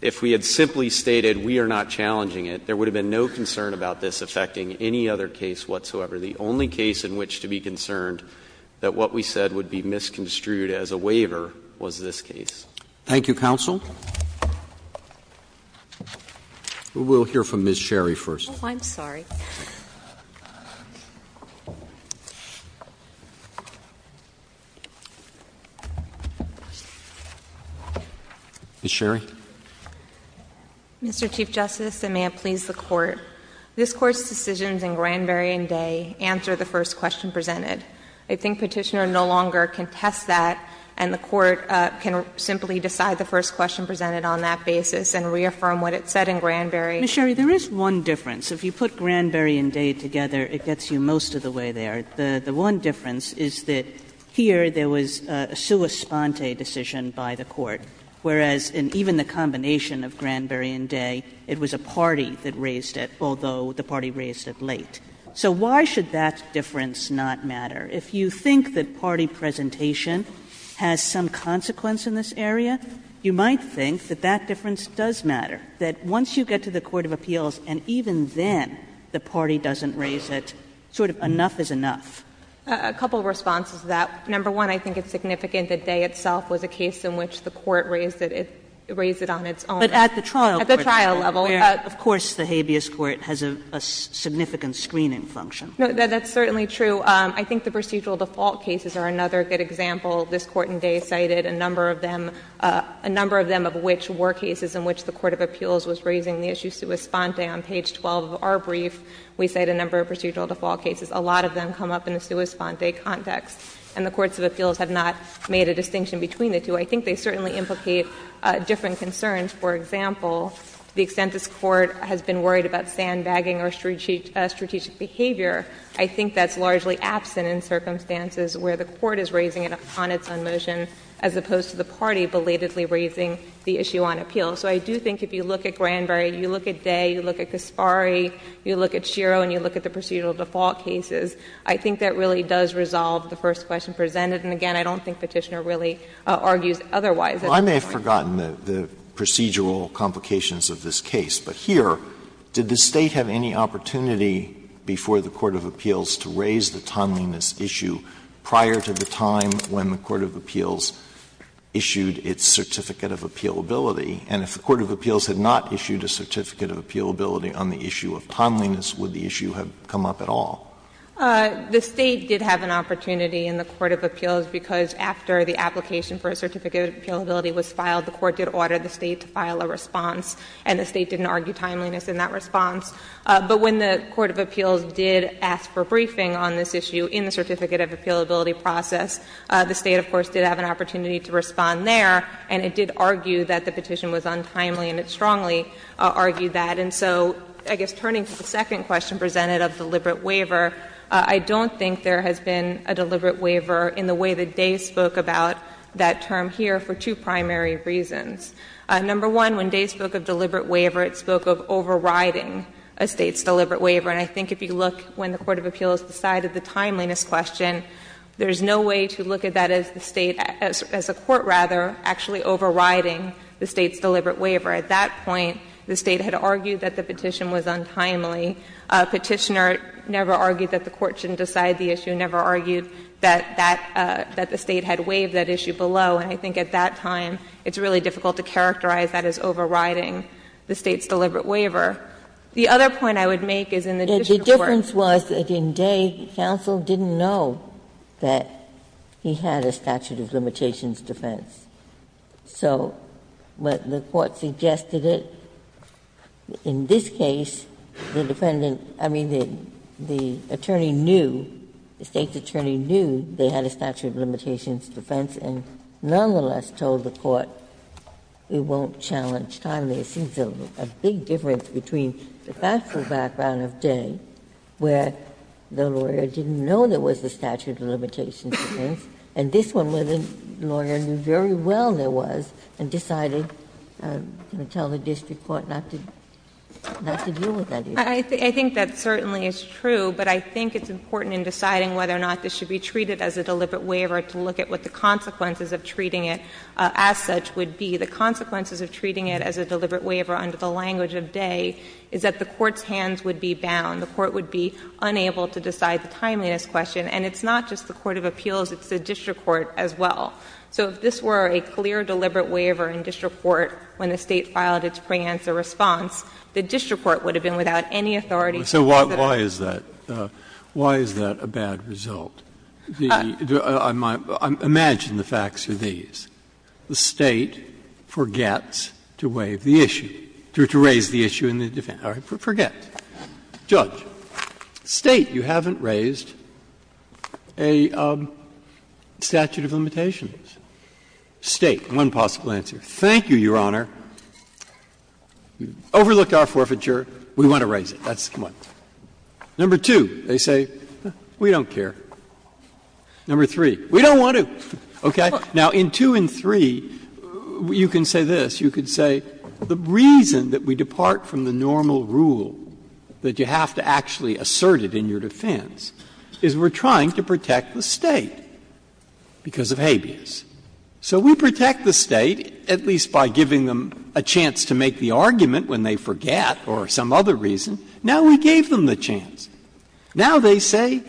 if we had simply stated we are not challenging it, there would have been no concern about this affecting any other case whatsoever. The only case in which to be concerned that what we said would be misconstrued as a waiver was this case. Thank you, counsel. We will hear from Ms. Sherry first. Oh, I'm sorry. Ms. Sherry. Mr. Chief Justice, and may it please the Court, this Court's decisions in Granberry and Day answer the first question presented. I think Petitioner no longer can test that, and the Court can simply decide the first question presented on that basis and reaffirm what it said in Granberry. Ms. Sherry, there is one difference. If you put Granberry and Day together, it gets you most of the way there. The one difference is that here there was a sua sponte decision by the Court, whereas in even the combination of Granberry and Day, it was a party that raised it, although the party raised it late. So why should that difference not matter? If you think that party presentation has some consequence in this area, you might think that that difference does matter, that once you get to the court of appeals and even then the party doesn't raise it, sort of enough is enough. A couple of responses to that. Number one, I think it's significant that Day itself was a case in which the Court raised it on its own. But at the trial court level. At the trial level. Of course, the habeas court has a significant screening function. No, that's certainly true. I think the procedural default cases are another good example. This Court in Day cited a number of them, a number of them of which were cases in which the court of appeals was raising the issue sua sponte. On page 12 of our brief, we cite a number of procedural default cases. A lot of them come up in the sua sponte context. And the courts of appeals have not made a distinction between the two. I think they certainly implicate different concerns. For example, to the extent this Court has been worried about sandbagging raising it on its own motion, as opposed to the party belatedly raising the issue on appeal. So I do think if you look at Granberry, you look at Day, you look at Kaspari, you look at Shero, and you look at the procedural default cases, I think that really does resolve the first question presented. And again, I don't think Petitioner really argues otherwise. Alito, I may have forgotten the procedural complications of this case. But here, did the State have any opportunity before the court of appeals to raise the timeliness issue prior to the time when the court of appeals issued its certificate of appealability? And if the court of appeals had not issued a certificate of appealability on the issue of timeliness, would the issue have come up at all? The State did have an opportunity in the court of appeals because after the application for a certificate of appealability was filed, the court did order the State to file a response, and the State didn't argue timeliness in that response. But when the court of appeals did ask for briefing on this issue in the certificate of appealability process, the State, of course, did have an opportunity to respond there, and it did argue that the petition was untimely, and it strongly argued that. And so I guess turning to the second question presented of deliberate waiver, I don't think there has been a deliberate waiver in the way that Day spoke about that term here for two primary reasons. Number one, when Day spoke of deliberate waiver, it spoke of overriding a State's deliberate waiver. And I think if you look when the court of appeals decided the timeliness question, there is no way to look at that as the State, as a court, rather, actually overriding the State's deliberate waiver. At that point, the State had argued that the petition was untimely. A petitioner never argued that the court shouldn't decide the issue, never argued that that the State had waived that issue below. And I think at that time, it's really difficult to characterize that as overriding the State's deliberate waiver. The other point I would make is in the district court. Ginsburg-Miller The difference was that in Day, counsel didn't know that he had a statute of limitations defense. So what the court suggested it, in this case, the defendant – I mean, the attorney knew, the State's attorney knew they had a statute of limitations defense, and not nonetheless told the court, we won't challenge timeliness. It's a big difference between the factual background of Day, where the lawyer didn't know there was a statute of limitations defense, and this one, where the lawyer knew very well there was, and decided to tell the district court not to deal with that issue. I think that certainly is true, but I think it's important in deciding whether or not this should be treated as a deliberate waiver to look at what the consequences of treating it as such would be. The consequences of treating it as a deliberate waiver under the language of Day is that the court's hands would be bound. The court would be unable to decide the timeliness question. And it's not just the court of appeals, it's the district court as well. So if this were a clear deliberate waiver in district court when the State filed its pre-answer response, the district court would have been without any authority to do that. Breyer, why is that a bad result? Imagine the facts are these. The State forgets to waive the issue, to raise the issue in the defense. All right, forget. Judge, State, you haven't raised a statute of limitations. State, one possible answer. Thank you, Your Honor. Overlook our forfeiture, we want to raise it. Number two, they say, we don't care. Number three, we don't want to, okay? Now, in two and three, you can say this. You can say the reason that we depart from the normal rule that you have to actually assert it in your defense is we're trying to protect the State because of habeas. So we protect the State, at least by giving them a chance to make the argument when they forget or some other reason. Now we gave them the chance. Now they say,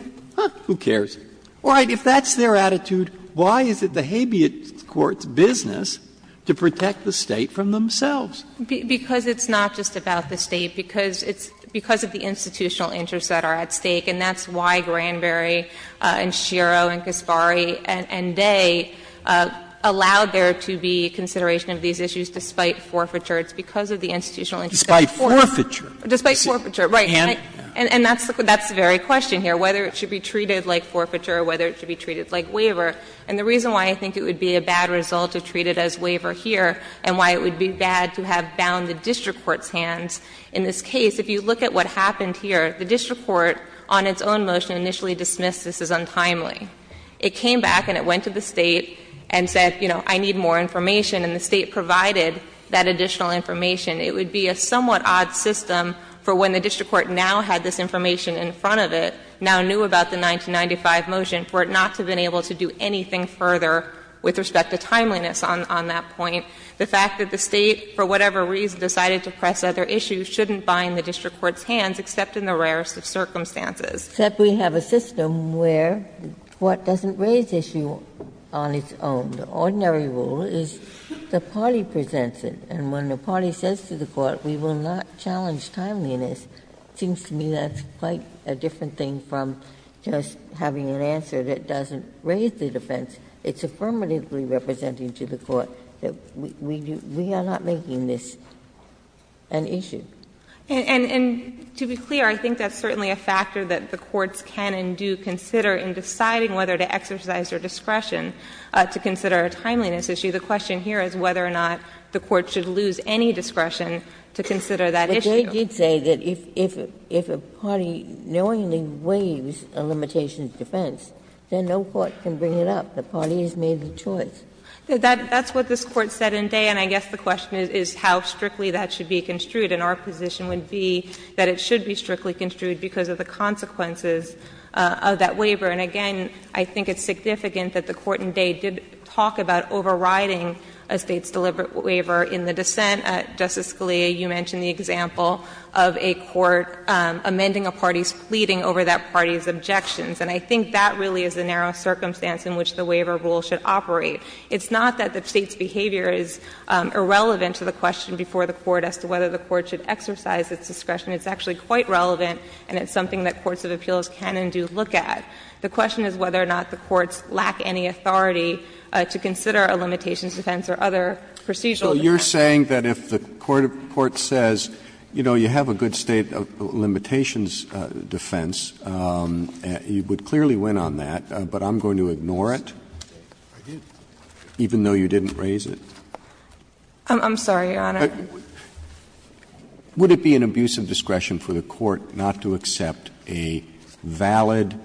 who cares? All right, if that's their attitude, why is it the habeas court's business to protect the State from themselves? Because it's not just about the State, because it's because of the institutional interests that are at stake, and that's why Granberry and Sciarro and Kaspari and Day allowed there to be consideration of these issues despite forfeiture. It's because of the institutional interests of forfeiture. Sotomayor, despite forfeiture. And that's the very question here, whether it should be treated like forfeiture or whether it should be treated like waiver. And the reason why I think it would be a bad result to treat it as waiver here and why it would be bad to have bound the district court's hands in this case, if you look at what happened here, the district court on its own motion initially dismissed this as untimely. It came back and it went to the State and said, you know, I need more information, and the State provided that additional information. It would be a somewhat odd system for when the district court now had this information in front of it, now knew about the 1995 motion, for it not to have been able to do anything further with respect to timeliness on that point. The fact that the State, for whatever reason, decided to press other issues shouldn't bind the district court's hands, except in the rarest of circumstances. Ginsburg-Millett, except we have a system where the court doesn't raise issue on its own. The ordinary rule is the party presents it, and when the party says to the court, we will not challenge timeliness, it seems to me that's quite a different thing from just having an answer that doesn't raise the defense. It's affirmatively representing to the court that we are not making this an issue. And to be clear, I think that's certainly a factor that the courts can and do consider in deciding whether to exercise their discretion to consider a timeliness issue. The question here is whether or not the court should lose any discretion to consider that issue. Ginsburg-Millett, but they did say that if a party knowingly waives a limitation of defense, then no court can bring it up. The party has made the choice. Millett, that's what this Court said in Day, and I guess the question is how strictly that should be construed. And our position would be that it should be strictly construed because of the consequences of that waiver. And again, I think it's significant that the Court in Day did talk about overriding a State's deliberate waiver in the dissent. Justice Scalia, you mentioned the example of a court amending a party's pleading over that party's objections. And I think that really is the narrow circumstance in which the waiver rule should operate. It's not that the State's behavior is irrelevant to the question before the court as to whether the court should exercise its discretion. It's actually quite relevant, and it's something that courts of appeals can and do look at. The question is whether or not the courts lack any authority to consider a limitations defense or other procedural defense. Roberts, so you're saying that if the court says, you know, you have a good State limitations defense, you would clearly win on that, but I'm going to ignore it, even I'm sorry, Your Honor. Would it be an abusive discretion for the court not to accept a valid,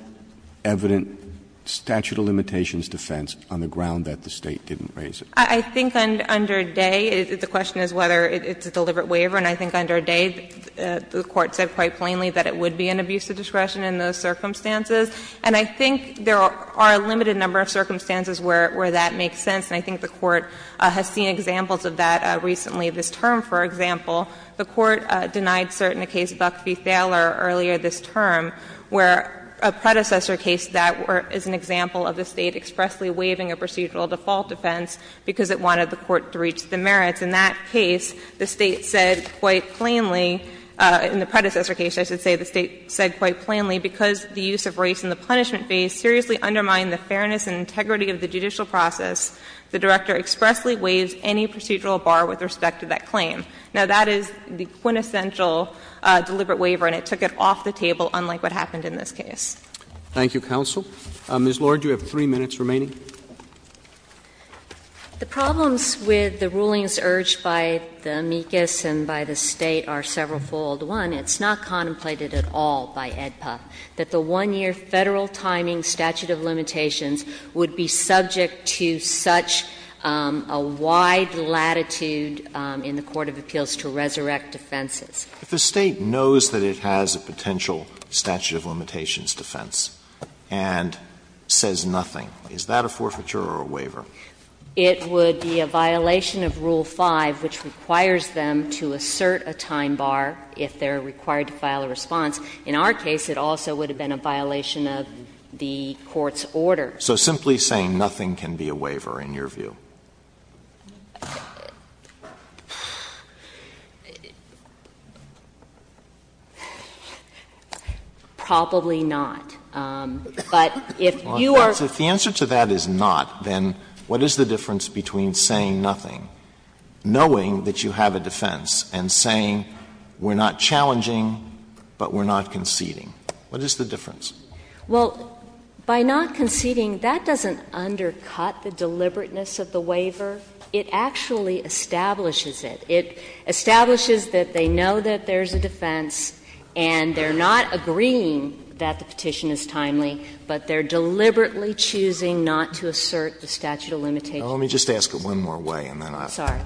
evident statute of limitations defense on the ground that the State didn't raise it? I think under Day, the question is whether it's a deliberate waiver. And I think under Day, the court said quite plainly that it would be an abusive discretion in those circumstances. And I think there are a limited number of circumstances where that makes sense, and I think the court has seen examples of that recently this term, for example. The court denied certain cases, Buck v. Thaler, earlier this term, where a predecessor case that is an example of the State expressly waiving a procedural default defense because it wanted the court to reach the merits. In that case, the State said quite plainly, in the predecessor case, I should say, the State said quite plainly, because the use of race in the punishment phase seriously undermined the fairness and integrity of the judicial process, the director expressly waives any procedural bar with respect to that claim. Now, that is the quintessential deliberate waiver, and it took it off the table, unlike what happened in this case. Roberts. Thank you, counsel. Ms. Lord, you have three minutes remaining. The problems with the rulings urged by the amicus and by the State are severalfold. One, it's not contemplated at all by AEDPA that the one-year Federal timing statute of limitations would be subject to such a wide latitude in the court of appeals to resurrect defenses. If the State knows that it has a potential statute of limitations defense and says nothing, is that a forfeiture or a waiver? It would be a violation of Rule 5, which requires them to assert a time bar if they are required to file a response. In our case, it also would have been a violation of the court's order. So simply saying nothing can be a waiver in your view? Probably not. But if you are — If the answer to that is not, then what is the difference between saying nothing, knowing that you have a defense, and saying we are not challenging, but we are not conceding? What is the difference? Well, by not conceding, that doesn't undercut the deliberateness of the waiver. It actually establishes it. It establishes that they know that there is a defense and they are not agreeing that the petition is timely, but they are deliberately choosing not to assert the statute of limitations. Now, let me just ask it one more way, and then I'll stop. Sorry.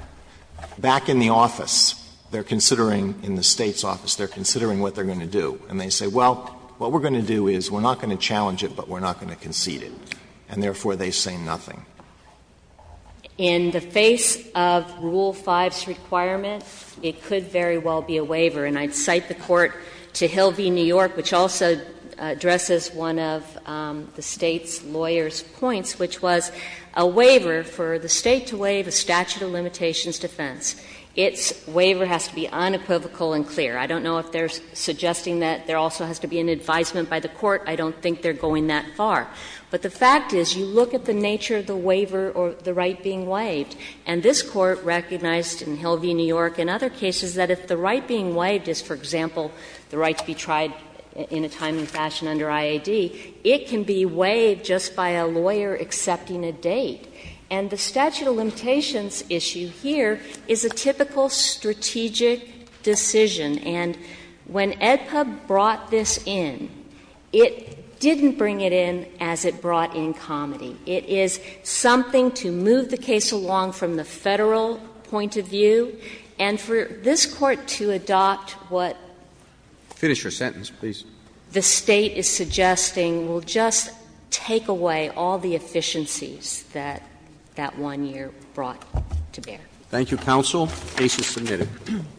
Back in the office, they are considering, in the State's office, they are considering what they are going to do. And they say, well, what we are going to do is we are not going to challenge it, but we are not going to concede it. And therefore, they say nothing. In the face of Rule 5's requirement, it could very well be a waiver. And I would cite the court to Hill v. New York, which also addresses one of the State's lawyers' points, which was a waiver for the State to waive a statute of limitations defense, its waiver has to be unequivocal and clear. I don't know if they are suggesting that there also has to be an advisement by the court. I don't think they are going that far. But the fact is, you look at the nature of the waiver or the right being waived, and this Court recognized in Hill v. New York and other cases that if the right being waived is, for example, the right to be tried in a timely fashion under IAD, it can be waived just by a lawyer accepting a date. And the statute of limitations issue here is a typical strategic decision. And when AEDPA brought this in, it didn't bring it in as it brought in Comedy. It is something to move the case along from the Federal point of view. And for this Court to adopt what the State is suggesting, and I'm going to go back to what the State is suggesting, will just take away all the efficiencies that that one year brought to bear. Thank you, counsel. Case is submitted.